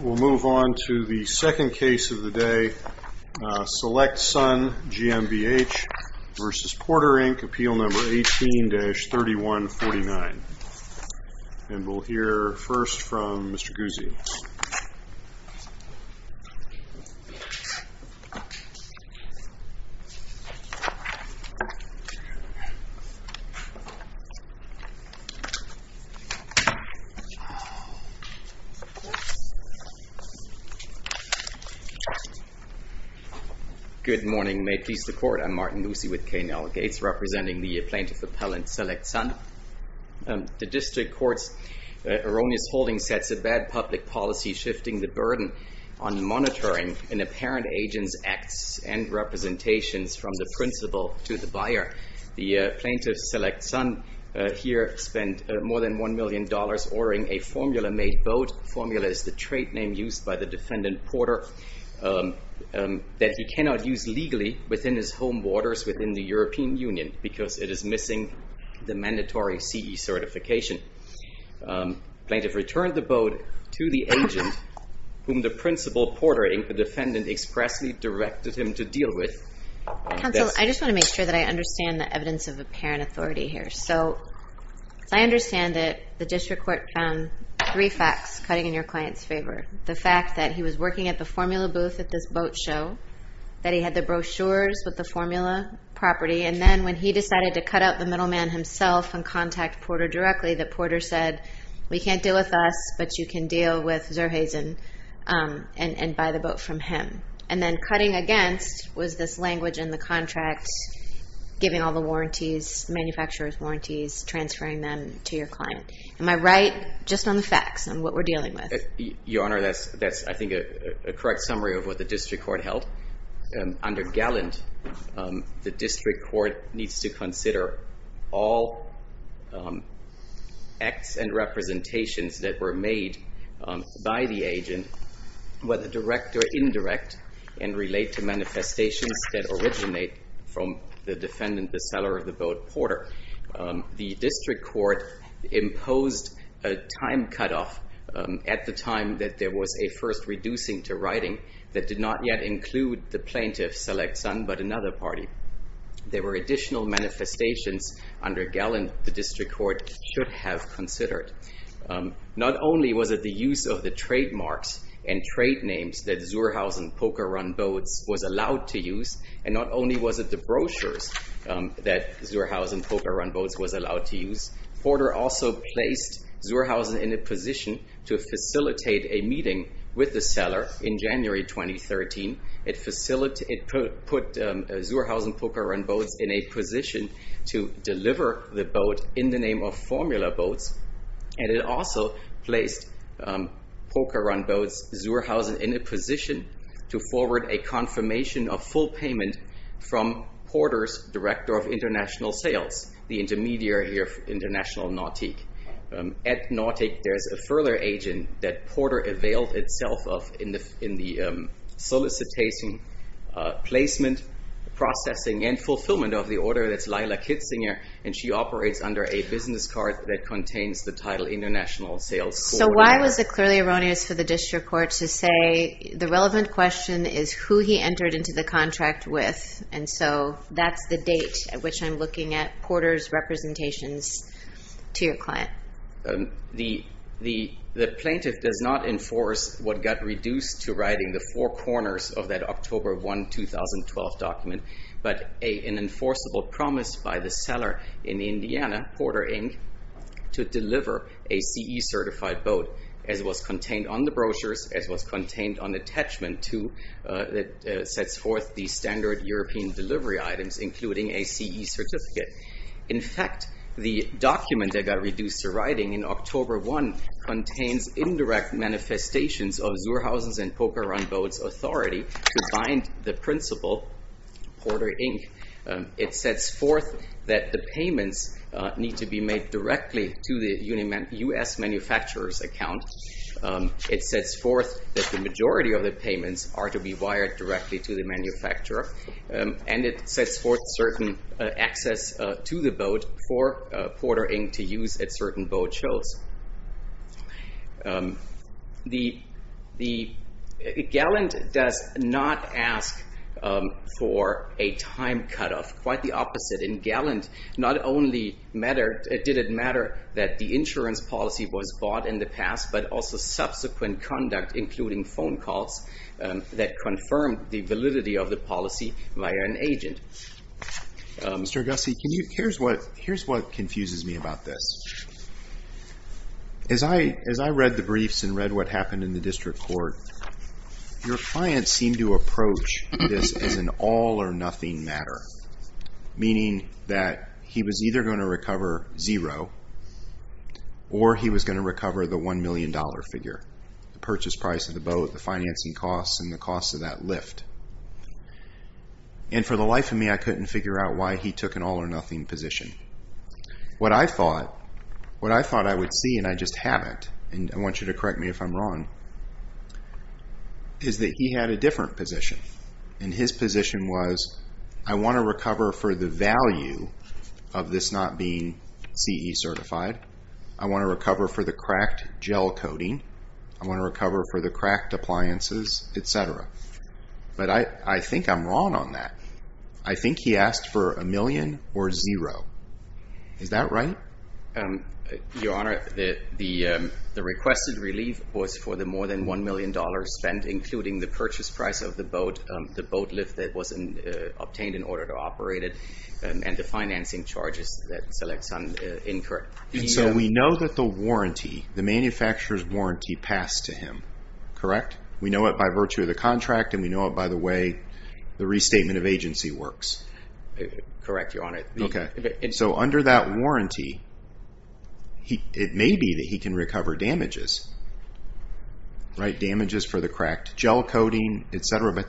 We'll move on to the second case of the day, SelectSun GmbH v. Porter, Inc., Appeal 18-3149. And we'll hear first from Mr. Guzzi. Good morning. May it please the Court, I'm Martin Guzzi with K&L Gates, representing the plaintiff appellant SelectSun. The district court's erroneous holding sets a bad public policy, shifting the burden on monitoring an apparent agent's acts and representations from the principal to the buyer. The plaintiff, SelectSun, here spent more than $1 million ordering a formula-made boat—formula is the trade name used by the defendant, Porter— that he cannot use legally within his home waters within the European Union because it is missing the mandatory CE certification. The plaintiff returned the boat to the agent, whom the principal, Porter, Inc., the defendant expressly directed him to deal with. Counsel, I just want to make sure that I understand the evidence of apparent authority here. So, as I understand it, the district court found three facts cutting in your client's favor. The fact that he was working at the formula booth at this boat show, that he had the brochures with the formula property, and then when he decided to cut out the middleman himself and contact Porter directly, that Porter said, we can't deal with us, but you can deal with Zurheisen and buy the boat from him. And then cutting against was this language in the contract giving all the warranties, manufacturer's warranties, transferring them to your client. Am I right just on the facts and what we're dealing with? Your Honor, that's, I think, a correct summary of what the district court held. Under Gallant, the district court needs to consider all acts and representations that were made by the agent, whether direct or indirect, and relate to manifestations that originate from the defendant, the seller of the boat, Porter. The district court imposed a time cutoff at the time that there was a first reducing to writing that did not yet include the plaintiff's select son, but another party. There were additional manifestations under Gallant the district court should have considered. Not only was it the use of the trademarks and trade names that Zurheisen Poker Run Boats was allowed to use, and not only was it the brochures that Zurheisen Poker Run Boats was allowed to use, Porter also placed Zurheisen in a position to facilitate a meeting with the seller in January 2013. It put Zurheisen Poker Run Boats in a position to deliver the boat in the name of Formula Boats, and it also placed Poker Run Boats Zurheisen in a position to forward a confirmation of full payment from Porter's director of international sales, the intermediary of International Nautique. At Nautique, there's a further agent that Porter availed itself of in the solicitation, placement, processing, and fulfillment of the order. That's Lila Kitzinger, and she operates under a business card that contains the title international sales. So why was it clearly erroneous for the district court to say the relevant question is who he entered into the contract with? And so that's the date at which I'm looking at Porter's representations to your client. The plaintiff does not enforce what got reduced to writing the four corners of that October 1, 2012 document, but an enforceable promise by the seller in Indiana, Porter Inc., to deliver a CE-certified boat, as it was contained on the brochures, as it was contained on the attachment that sets forth the standard European delivery items, including a CE certificate. In fact, the document that got reduced to writing in October 1 contains indirect manifestations of Zurheisen's and Poker Run Boats' authority to bind the principal, Porter Inc. It sets forth that the payments need to be made directly to the U.S. manufacturer's account. It sets forth that the majority of the payments are to be wired directly to the manufacturer, and it sets forth certain access to the boat for Porter Inc. to use at certain boat shows. Gallant does not ask for a time cutoff. Quite the opposite. In Gallant, not only did it matter that the insurance policy was bought in the past, but also subsequent conduct, including phone calls, that confirmed the validity of the policy by an agent. Mr. Agassi, here's what confuses me about this. As I read the briefs and read what happened in the district court, your client seemed to approach this as an all-or-nothing matter, meaning that he was either going to recover zero or he was going to recover the $1 million figure, the purchase price of the boat, the financing costs, and the cost of that lift. And for the life of me, I couldn't figure out why he took an all-or-nothing position. What I thought I would see, and I just haven't, and I want you to correct me if I'm wrong, is that he had a different position. And his position was, I want to recover for the value of this not being CE certified. I want to recover for the cracked gel coating. I want to recover for the cracked appliances, et cetera. But I think I'm wrong on that. I think he asked for a million or zero. Is that right? Your Honor, the requested relief was for the more than $1 million spent, including the purchase price of the boat, the boat lift that was obtained in order to operate it, and the financing charges that selects on incurred. And so we know that the warranty, the manufacturer's warranty, passed to him, correct? We know it by virtue of the contract, and we know it by the way the restatement of agency works? Correct, Your Honor. Okay. So under that warranty, it may be that he can recover damages, right? Damages for the cracked gel coating, et cetera. But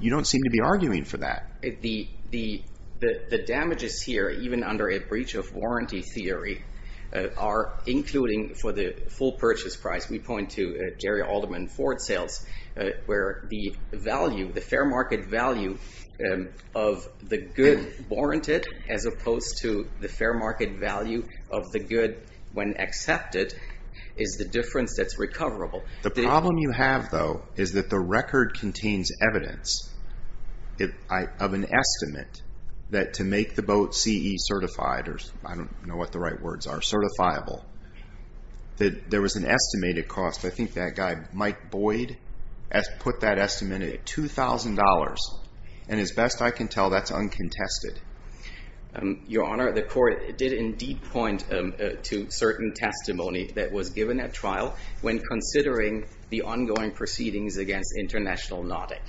you don't seem to be arguing for that. The damages here, even under a breach of warranty theory, are including for the full purchase price. We point to Jerry Alderman Ford Sales, where the value, the fair market value of the good warranted, as opposed to the fair market value of the good when accepted, is the difference that's recoverable. The problem you have, though, is that the record contains evidence of an estimate that to make the boat CE certified, or I don't know what the right words are, certifiable, that there was an estimated cost. I think that guy Mike Boyd put that estimate at $2,000. And as best I can tell, that's uncontested. Your Honor, the court did indeed point to certain testimony that was given at trial when considering the ongoing proceedings against International Nautic.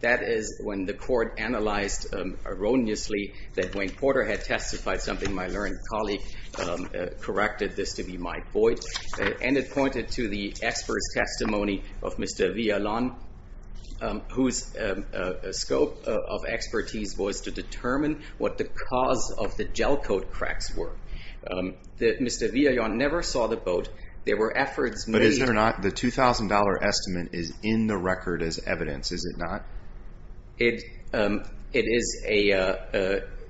That is when the court analyzed erroneously that Wayne Porter had testified, something my learned colleague corrected this to be Mike Boyd. And it pointed to the expert's testimony of Mr. Villalon, whose scope of expertise was to determine what the cause of the gel coat cracks were. Mr. Villalon never saw the boat. But is there not the $2,000 estimate is in the record as evidence, is it not? It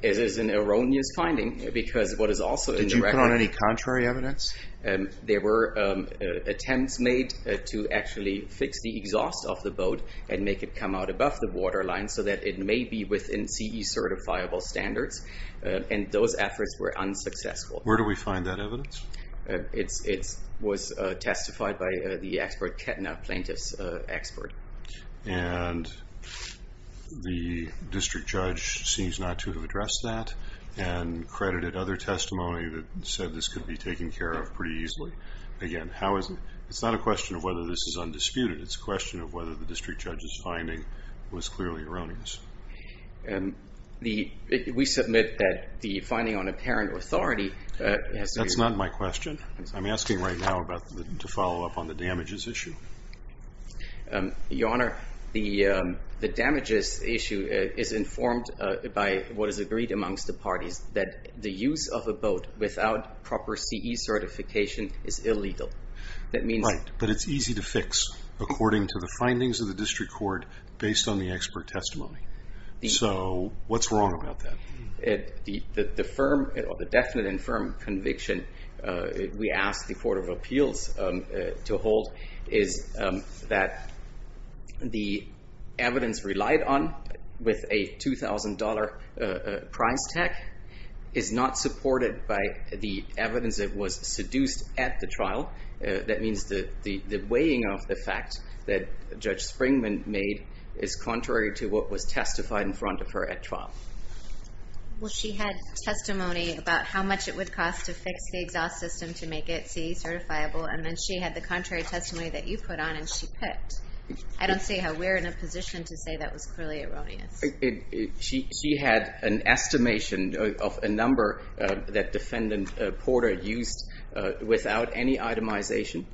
is an erroneous finding because what is also in the record. Did you put on any contrary evidence? There were attempts made to actually fix the exhaust of the boat and make it come out above the waterline so that it may be within CE certifiable standards. And those efforts were unsuccessful. Where do we find that evidence? It was testified by the expert, Ketna Plaintiff's expert. And the district judge seems not to have addressed that and credited other testimony that said this could be taken care of pretty easily. Again, it's not a question of whether this is undisputed. It's a question of whether the district judge's finding was clearly erroneous. That's not my question. I'm asking right now to follow up on the damages issue. Your Honor, the damages issue is informed by what is agreed amongst the parties, that the use of a boat without proper CE certification is illegal. Right, but it's easy to fix according to the findings of the district court based on the expert testimony. So what's wrong about that? The firm or the definite and firm conviction we ask the Court of Appeals to hold is that the evidence relied on with a $2,000 price tag is not supported by the evidence that was seduced at the trial. That means the weighing of the fact that Judge Springman made is contrary to what was testified in front of her at trial. Well, she had testimony about how much it would cost to fix the exhaust system to make it CE certifiable, and then she had the contrary testimony that you put on and she picked. I don't see how we're in a position to say that was clearly erroneous. She had an estimation of a number that Defendant Porter used without any itemization.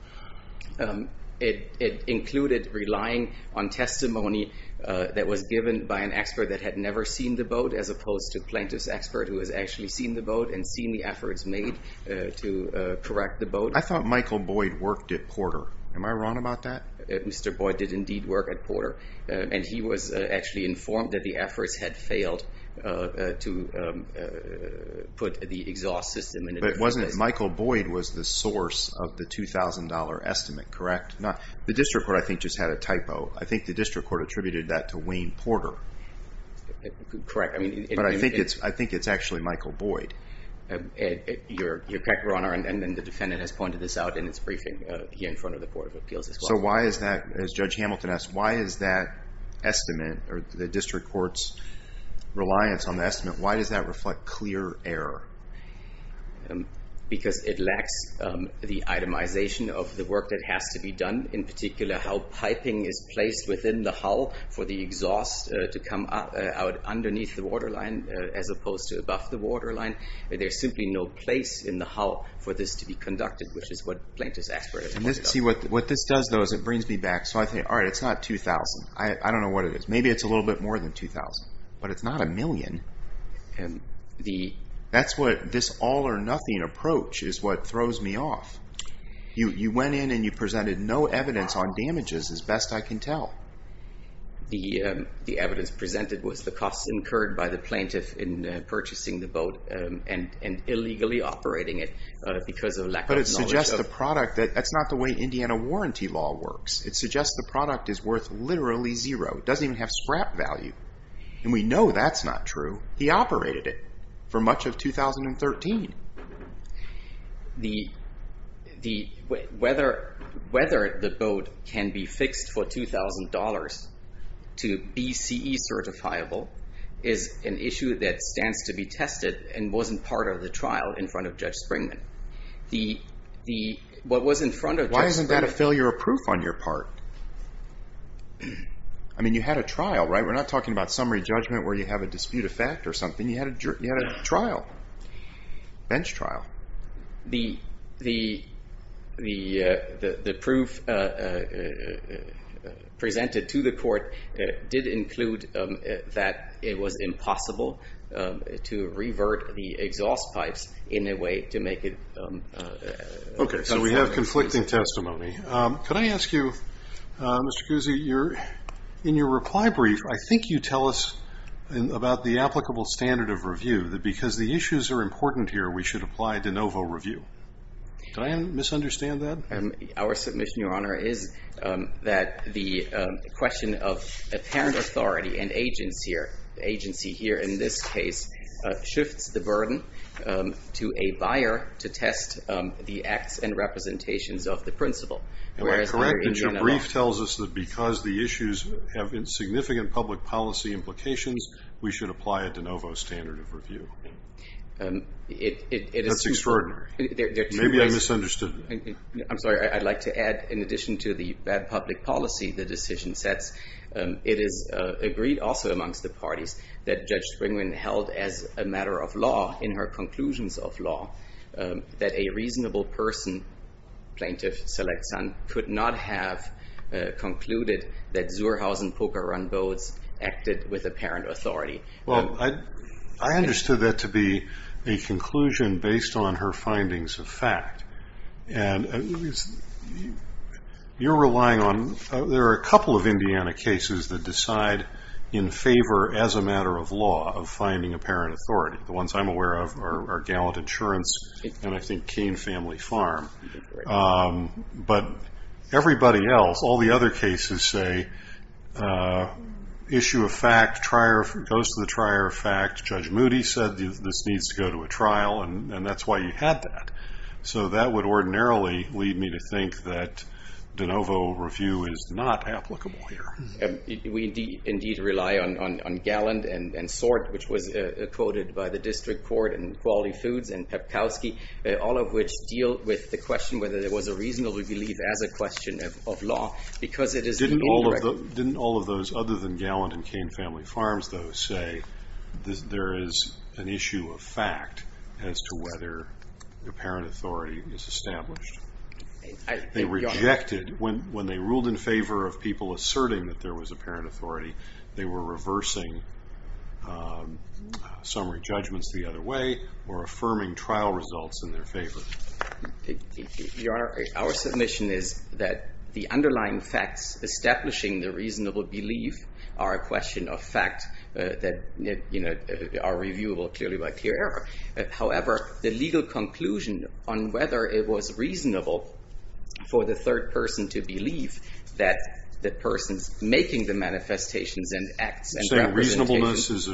It included relying on testimony that was given by an expert that had never seen the boat as opposed to a plaintiff's expert who has actually seen the boat and seen the efforts made to correct the boat. I thought Michael Boyd worked at Porter. Am I wrong about that? Mr. Boyd did indeed work at Porter, and he was actually informed that the efforts had failed to put the exhaust system in place. Michael Boyd was the source of the $2,000 estimate, correct? The District Court, I think, just had a typo. I think the District Court attributed that to Wayne Porter. Correct. But I think it's actually Michael Boyd. You're correct, Your Honor, and the Defendant has pointed this out in its briefing here in front of the Board of Appeals as well. So why is that, as Judge Hamilton asked, why is that estimate or the District Court's reliance on the estimate, why does that reflect clear error? Because it lacks the itemization of the work that has to be done, in particular how piping is placed within the hull for the exhaust to come out underneath the waterline as opposed to above the waterline. There's simply no place in the hull for this to be conducted, which is what plaintiff's expert has pointed out. See, what this does, though, is it brings me back. So I think, all right, it's not $2,000. I don't know what it is. Maybe it's a little bit more than $2,000, but it's not a million. That's what this all-or-nothing approach is what throws me off. You went in and you presented no evidence on damages as best I can tell. The evidence presented was the costs incurred by the plaintiff in purchasing the boat and illegally operating it because of lack of knowledge of But it suggests the product, that's not the way Indiana warranty law works. It suggests the product is worth literally zero. It doesn't even have scrap value. And we know that's not true. He operated it for much of 2013. Whether the boat can be fixed for $2,000 to be CE certifiable is an issue that stands to be tested and wasn't part of the trial in front of Judge Springman. Why isn't that a failure of proof on your part? I mean, you had a trial, right? We're not talking about summary judgment where you have a dispute of fact or something. You had a trial, bench trial. The proof presented to the court did include that it was impossible to revert the exhaust pipes in a way to make it... Okay, so we have conflicting testimony. Could I ask you, Mr. Cousy, in your reply brief, I think you tell us about the applicable standard of review that because the issues are important here, we should apply de novo review. Could I misunderstand that? Our submission, Your Honor, is that the question of apparent authority and agency here in this case shifts the burden to a buyer to test the acts and representations of the principle. Am I correct that your brief tells us that because the issues have insignificant public policy implications, we should apply a de novo standard of review? That's extraordinary. Maybe I misunderstood. I'm sorry. I'd like to add, in addition to the bad public policy the decision sets, in her conclusions of law, that a reasonable person, plaintiff, select son, could not have concluded that Zuhrhausen poker run boats acted with apparent authority. Well, I understood that to be a conclusion based on her findings of fact. You're relying on... There are a couple of Indiana cases that decide in favor, as a matter of law, of finding apparent authority. The ones I'm aware of are Gallant Insurance and, I think, Cain Family Farm. But everybody else, all the other cases say issue of fact, goes to the trier of fact, Judge Moody said this needs to go to a trial, and that's why you had that. So that would ordinarily lead me to think that de novo review is not applicable here. We indeed rely on Gallant and SORT, which was quoted by the District Court and Quality Foods and Pepkowski, all of which deal with the question whether there was a reasonable belief as a question of law. Didn't all of those other than Gallant and Cain Family Farms, though, say there is an issue of fact as to whether apparent authority is established? They rejected. When they ruled in favor of people asserting that there was apparent authority, they were reversing summary judgments the other way or affirming trial results in their favor. Your Honor, our submission is that the underlying facts establishing the reasonable belief are a question of fact that are reviewable clearly by clear error. However, the legal conclusion on whether it was reasonable for the third person to believe that the person's making the manifestations and acts and representation. You're saying reasonableness is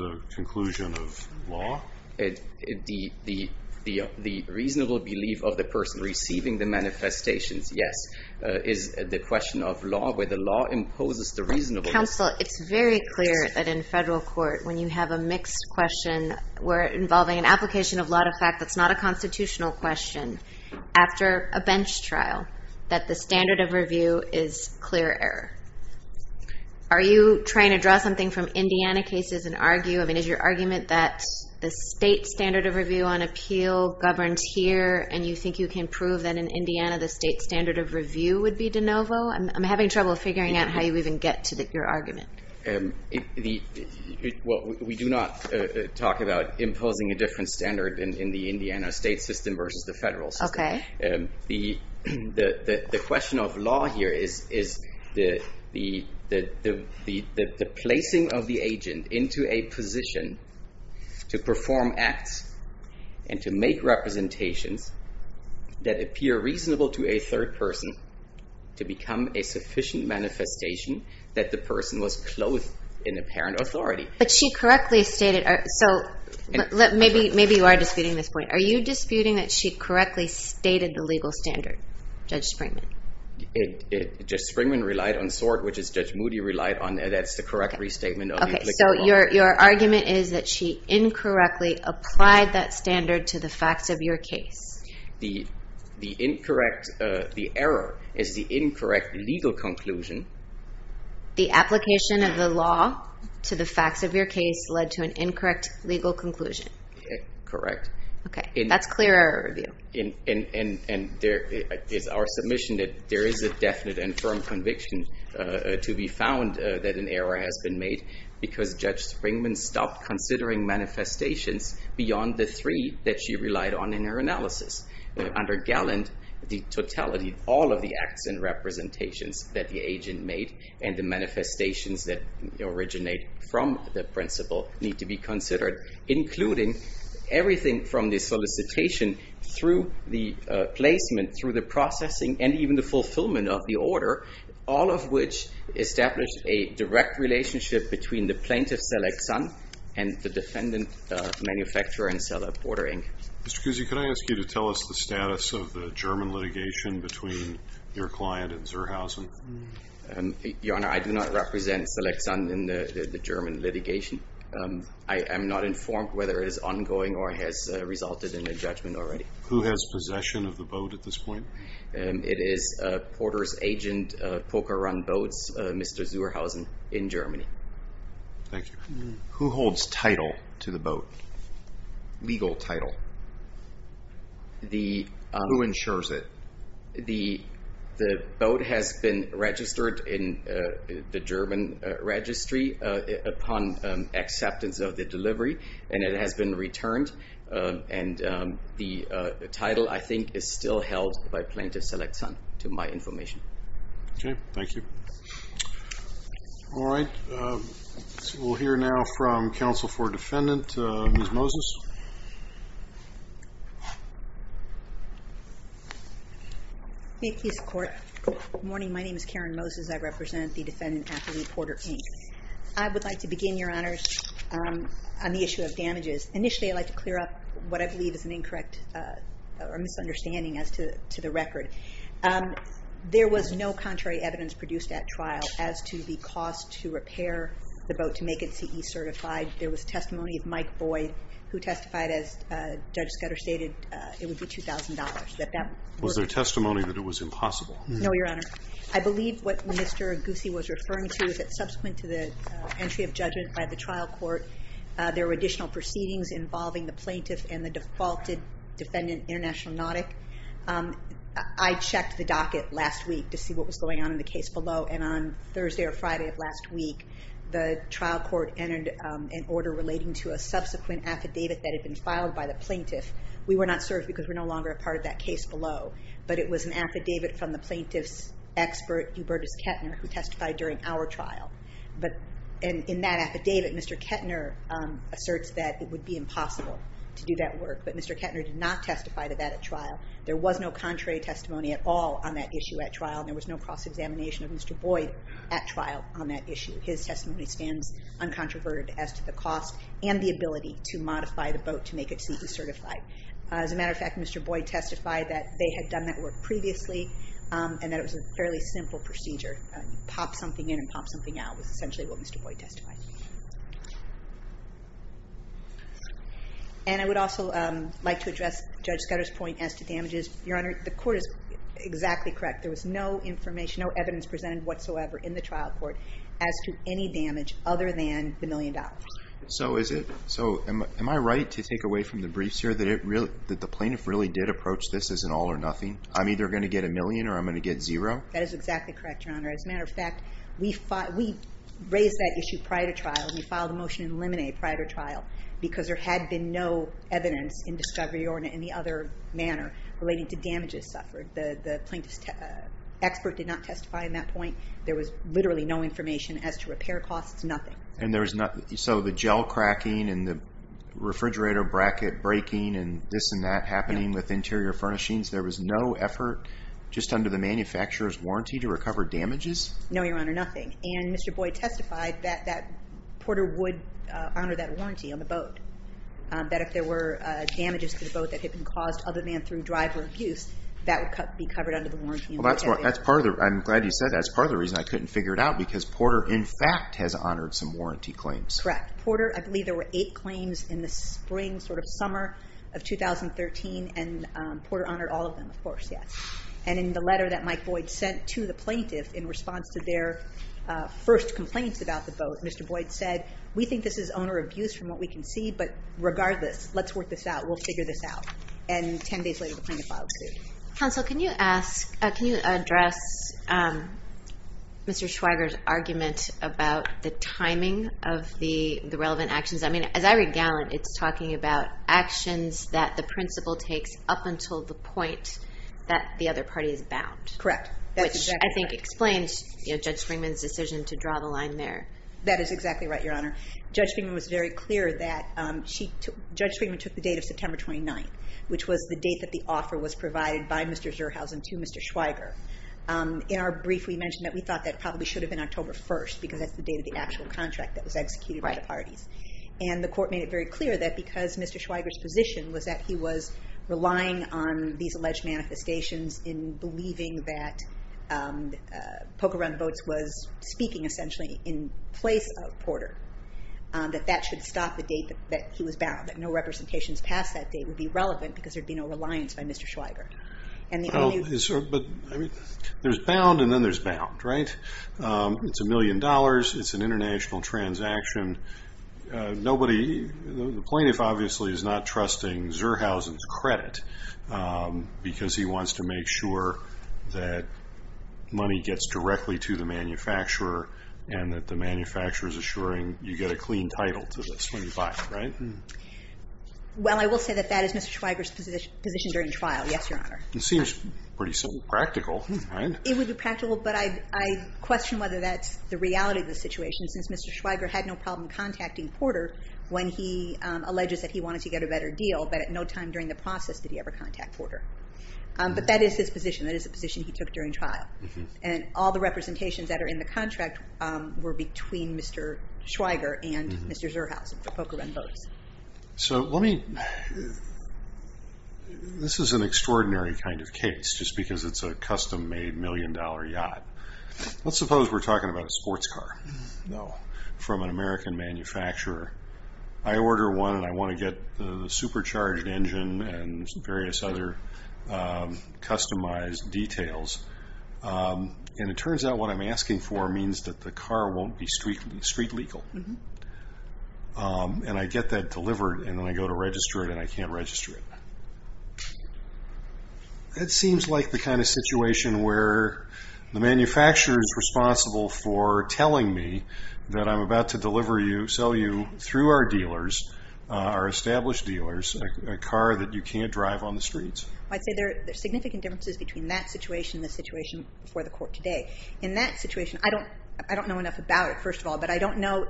a conclusion of law? The reasonable belief of the person receiving the manifestations, yes, is the question of law where the law imposes the reasonableness. Counsel, it's very clear that in federal court, when you have a mixed question involving an application of law to fact that's not a constitutional question, after a bench trial, that the standard of review is clear error. Are you trying to draw something from Indiana cases and argue? I mean, is your argument that the state standard of review on appeal governs here and you think you can prove that in Indiana the state standard of review would be de novo? I'm having trouble figuring out how you even get to your argument. We do not talk about imposing a different standard in the Indiana state system versus the federal system. The question of law here is the placing of the agent into a position to perform acts and to make representations that appear reasonable to a third person to become a sufficient manifestation that the person was clothed in apparent authority. Maybe you are disputing this point. Are you disputing that she correctly stated the legal standard, Judge Springman? Judge Springman relied on SORT, which Judge Moody relied on. That's the correct restatement of the applicable law. Your argument is that she incorrectly applied that standard to the facts of your case. The error is the incorrect legal conclusion. The application of the law to the facts of your case led to an incorrect legal conclusion. Correct. That's clear error review. And there is our submission that there is a definite and firm conviction to be found that an error has been made because Judge Springman stopped considering manifestations beyond the three that she relied on in her analysis. Under Gallant, the totality, all of the acts and representations that the agent made and the manifestations that originate from the principle need to be considered, including everything from the solicitation through the placement, through the processing, and even the fulfillment of the order, all of which established a direct relationship between the plaintiff, Selig Zahn, and the defendant, manufacturer and seller, Porter, Inc. Mr. Cusi, could I ask you to tell us the status of the German litigation between your client and Zurhausen? Your Honor, I do not represent Selig Zahn in the German litigation. I am not informed whether it is ongoing or has resulted in a judgment already. Who has possession of the boat at this point? It is Porter's agent, Poker Run Boats, Mr. Zurhausen, in Germany. Thank you. Who holds title to the boat, legal title? Who insures it? The boat has been registered in the German registry upon acceptance of the delivery, and it has been returned, and the title, I think, is still held by Plaintiff Selig Zahn, to my information. Okay. Thank you. All right. We'll hear now from counsel for defendant, Ms. Moses. Thank you, Your Honor. Good morning. My name is Karen Moses. I represent the defendant, athlete, Porter, Inc. I would like to begin, Your Honors, on the issue of damages. Initially, I'd like to clear up what I believe is an incorrect or misunderstanding as to the record. There was no contrary evidence produced at trial as to the cost to repair the boat to make it CE certified. There was testimony of Mike Boyd, who testified, as Judge Scudder stated, it would be $2,000. Was there testimony that it was impossible? No, Your Honor. I believe what Mr. Guse was referring to is that subsequent to the entry of judgment by the trial court, there were additional proceedings involving the plaintiff and the defaulted defendant, International Nautic. I checked the docket last week to see what was going on in the case below, and on Thursday or Friday of last week, the trial court entered an order relating to a subsequent affidavit that had been filed by the plaintiff. We were not served because we're no longer a part of that case below, but it was an affidavit from the plaintiff's expert, Hubertus Kettner, who testified during our trial. But in that affidavit, Mr. Kettner asserts that it would be impossible to do that work, but Mr. Kettner did not testify to that at trial. There was no contrary testimony at all on that issue at trial. There was no cross-examination of Mr. Boyd at trial on that issue. His testimony stands uncontroverted as to the cost and the ability to modify the boat to make it CE certified. As a matter of fact, Mr. Boyd testified that they had done that work previously and that it was a fairly simple procedure. Pop something in and pop something out was essentially what Mr. Boyd testified. And I would also like to address Judge Scudder's point as to damages. Your Honor, the court is exactly correct. There was no information, no evidence presented whatsoever in the trial court as to any damage other than the million dollars. So am I right to take away from the briefs here that the plaintiff really did approach this as an all or nothing? I'm either going to get a million or I'm going to get zero? That is exactly correct, Your Honor. As a matter of fact, we raised that issue prior to trial. We filed a motion to eliminate prior to trial because there had been no evidence in discovery or in any other manner relating to damages suffered. The plaintiff's expert did not testify in that point. There was literally no information as to repair costs, nothing. And so the gel cracking and the refrigerator bracket breaking and this and that happening with interior furnishings, there was no effort just under the manufacturer's warranty to recover damages? No, Your Honor, nothing. And Mr. Boyd testified that Porter would honor that warranty on the boat, that if there were damages to the boat that had been caused other than through driver abuse, that would be covered under the warranty. I'm glad you said that. That's part of the reason I couldn't figure it out because Porter, in fact, has honored some warranty claims. Correct. Porter, I believe there were eight claims in the spring, sort of summer of 2013, and Porter honored all of them, of course, yes. And in the letter that Mike Boyd sent to the plaintiff in response to their first complaints about the boat, Mr. Boyd said, we think this is owner abuse from what we can see, but regardless, let's work this out. We'll figure this out. And 10 days later, the plaintiff filed a suit. Counsel, can you address Mr. Schweiger's argument about the timing of the relevant actions? I mean, as I read Gallant, it's talking about actions that the principal takes up until the point that the other party is bound. Correct. Which I think explains Judge Springman's decision to draw the line there. That is exactly right, Your Honor. Judge Springman was very clear that she took the date of September 29th, which was the date that the offer was provided by Mr. Zurhausen to Mr. Schweiger. In our brief, we mentioned that we thought that probably should have been October 1st, because that's the date of the actual contract that was executed by the parties. And the court made it very clear that because Mr. Schweiger's position was that he was relying on these alleged manifestations in believing that Pocahontas Boats was speaking, essentially, in place of Porter, that that should stop the date that he was bound, that no representations past that date would be relevant because there would be no reliance by Mr. Schweiger. There's bound and then there's bound, right? It's a million dollars. It's an international transaction. The plaintiff obviously is not trusting Zurhausen's credit because he wants to make sure that money gets directly to the manufacturer and that the manufacturer is assuring you get a clean title to this when you buy it, right? Well, I will say that that is Mr. Schweiger's position during trial. Yes, Your Honor. It seems pretty simple and practical, right? It would be practical, but I question whether that's the reality of the situation, since Mr. Schweiger had no problem contacting Porter when he alleges that he wanted to get a better deal, but at no time during the process did he ever contact Porter. But that is his position. That is the position he took during trial. And all the representations that are in the contract were between Mr. Schweiger and Mr. Zurhausen for poker and both. So let me – this is an extraordinary kind of case just because it's a custom-made million-dollar yacht. Let's suppose we're talking about a sports car from an American manufacturer. I order one, and I want to get the supercharged engine and various other customized details. And it turns out what I'm asking for means that the car won't be street legal. And I get that delivered, and then I go to register it, and I can't register it. That seems like the kind of situation where the manufacturer is responsible for telling me that I'm about to deliver you, sell you through our dealers, our established dealers, a car that you can't drive on the streets. I'd say there are significant differences between that situation and the situation before the court today. In that situation, I don't know enough about it, first of all, but I don't know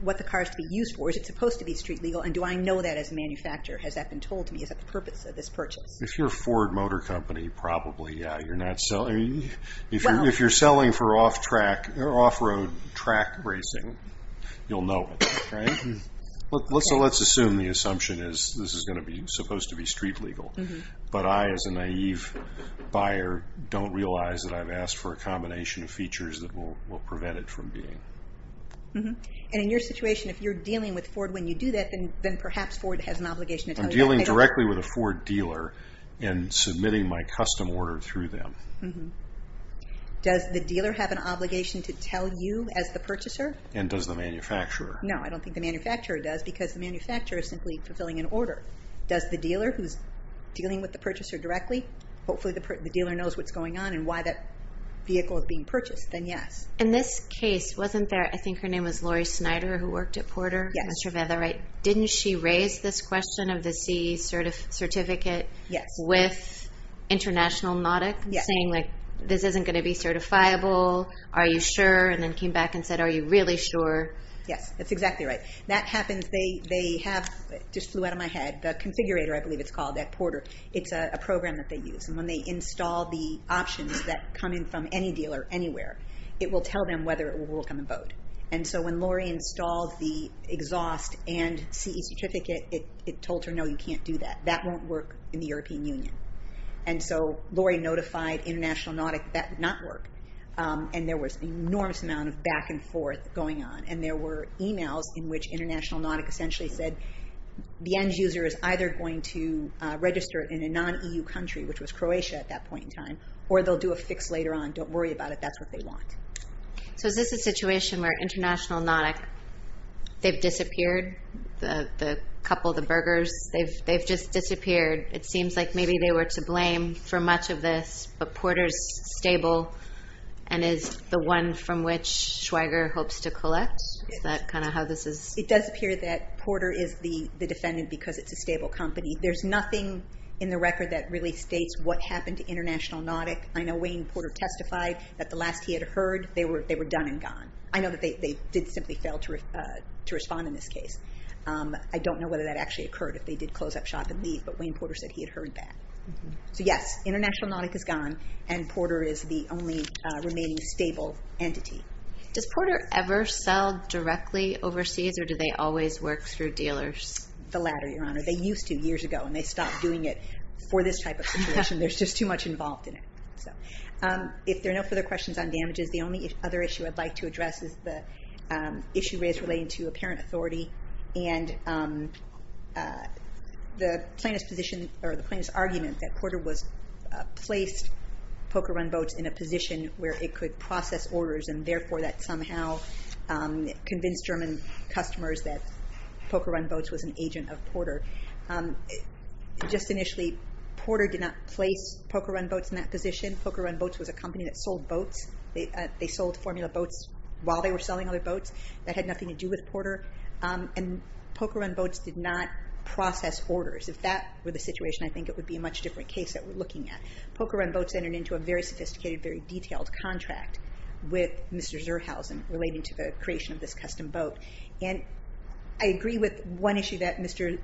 what the car is to be used for, is it supposed to be street legal, and do I know that as a manufacturer, has that been told to me, is that the purpose of this purchase? If you're a Ford motor company, probably, yeah. If you're selling for off-road track racing, you'll know it, right? So let's assume the assumption is this is going to be supposed to be street legal. But I, as a naive buyer, don't realize that I've asked for a combination of features that will prevent it from being. And in your situation, if you're dealing with Ford, when you do that, then perhaps Ford has an obligation to tell you that they don't... I'm dealing directly with a Ford dealer and submitting my custom order through them. Does the dealer have an obligation to tell you, as the purchaser? And does the manufacturer? No, I don't think the manufacturer does, because the manufacturer is simply fulfilling an order. Does the dealer, who's dealing with the purchaser directly, hopefully the dealer knows what's going on and why that vehicle is being purchased, then yes. In this case, wasn't there, I think her name was Lori Snyder, who worked at Porter? Yes. That's right. Didn't she raise this question of the CE certificate with International Nautic? Yes. Saying, like, this isn't going to be certifiable. Are you sure? And then came back and said, are you really sure? Yes, that's exactly right. That happens. They have, it just flew out of my head, the configurator, I believe it's called, at Porter, it's a program that they use. And when they install the options that come in from any dealer anywhere, it will tell them whether it will work on the boat. And so when Lori installed the exhaust and CE certificate, it told her, no, you can't do that. That won't work in the European Union. And so Lori notified International Nautic that that would not work. And there was an enormous amount of back and forth going on. And there were emails in which International Nautic essentially said, the end user is either going to register in a non-EU country, which was Croatia at that point in time, or they'll do a fix later on, don't worry about it, that's what they want. So is this a situation where International Nautic, they've disappeared? The couple, the burgers, they've just disappeared. It seems like maybe they were to blame for much of this, but Porter's stable and is the one from which Schweiger hopes to collect? Is that kind of how this is? It does appear that Porter is the defendant because it's a stable company. There's nothing in the record that really states what happened to International Nautic. I know Wayne Porter testified that the last he had heard, they were done and gone. I know that they did simply fail to respond in this case. I don't know whether that actually occurred, if they did close up shop and leave, but Wayne Porter said he had heard that. So yes, International Nautic is gone, and Porter is the only remaining stable entity. Does Porter ever sell directly overseas, or do they always work through dealers? The latter, Your Honor. They used to years ago, and they stopped doing it for this type of situation. There's just too much involved in it. If there are no further questions on damages, the only other issue I'd like to address is the issue raised relating to apparent authority and the plaintiff's position or the plaintiff's argument that Porter placed Poker Run Boats in a position where it could process orders and therefore that somehow convinced German customers Just initially, Porter did not place Poker Run Boats in that position. Poker Run Boats was a company that sold boats. They sold formula boats while they were selling other boats. That had nothing to do with Porter. And Poker Run Boats did not process orders. If that were the situation, I think it would be a much different case that we're looking at. Poker Run Boats entered into a very sophisticated, very detailed contract with Mr. Zurhausen relating to the creation of this custom boat. And I agree with one issue that Mr.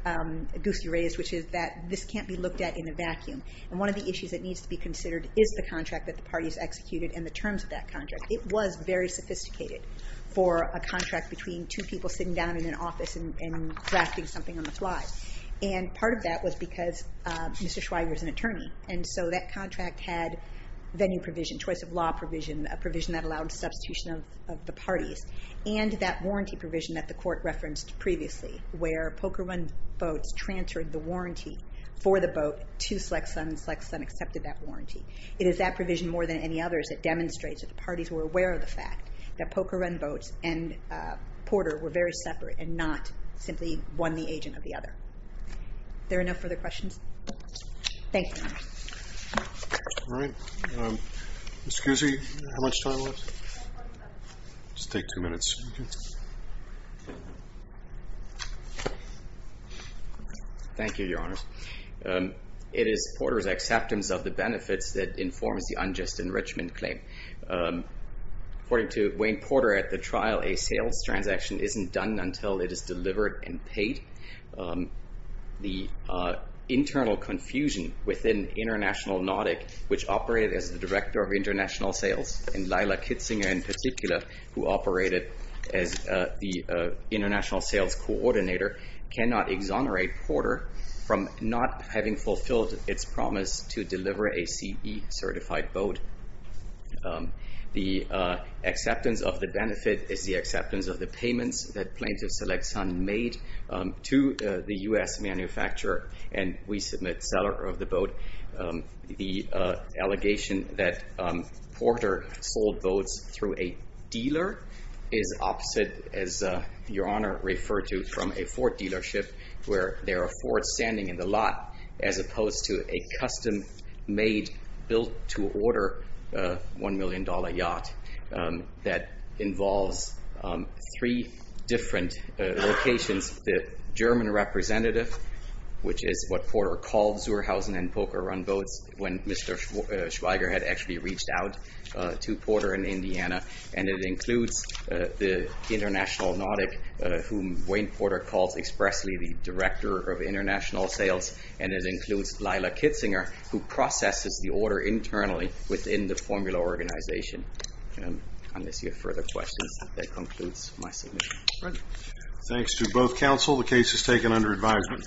Goosky raised, which is that this can't be looked at in a vacuum. And one of the issues that needs to be considered is the contract that the parties executed and the terms of that contract. It was very sophisticated for a contract between two people sitting down in an office and drafting something on the fly. And part of that was because Mr. Schweiger is an attorney. And so that contract had venue provision, choice of law provision, a provision that allowed substitution of the parties. And that warranty provision that the court referenced previously, where Poker Run Boats transferred the warranty for the boat to Slex Sun, and Slex Sun accepted that warranty. It is that provision more than any others that demonstrates that the parties were aware of the fact that Poker Run Boats and Porter were very separate and not simply one the agent of the other. There are no further questions? Thank you. All right. Ms. Goosky, how much time left? Just take two minutes. Thank you, Your Honors. It is Porter's acceptance of the benefits that informs the unjust enrichment claim. According to Wayne Porter at the trial, a sales transaction isn't done until it is delivered and paid. The internal confusion within International Nautic, which operated as the Director of International Sales, and Lila Kitzinger in particular, who operated as the International Sales Coordinator, cannot exonerate Porter from not having fulfilled its promise to deliver a CE-certified boat. The acceptance of the benefit is the acceptance of the payments that plaintiff Slex Sun made to the U.S. manufacturer, and we submit seller of the boat. The allegation that Porter sold boats through a dealer is opposite, as Your Honor referred to, from a Ford dealership, where there are Fords standing in the lot, as opposed to a custom-made, built-to-order $1 million yacht that involves three different locations. The German representative, which is what Porter called Zurhausen and Poker Run Boats when Mr. Schweiger had actually reached out to Porter in Indiana, and it includes the International Nautic, whom Wayne Porter calls expressly the Director of International Sales, and it includes Lila Kitzinger, who processes the order internally within the formula organization. Unless you have further questions, that concludes my submission. Thanks to both counsel, the case is taken under advisement.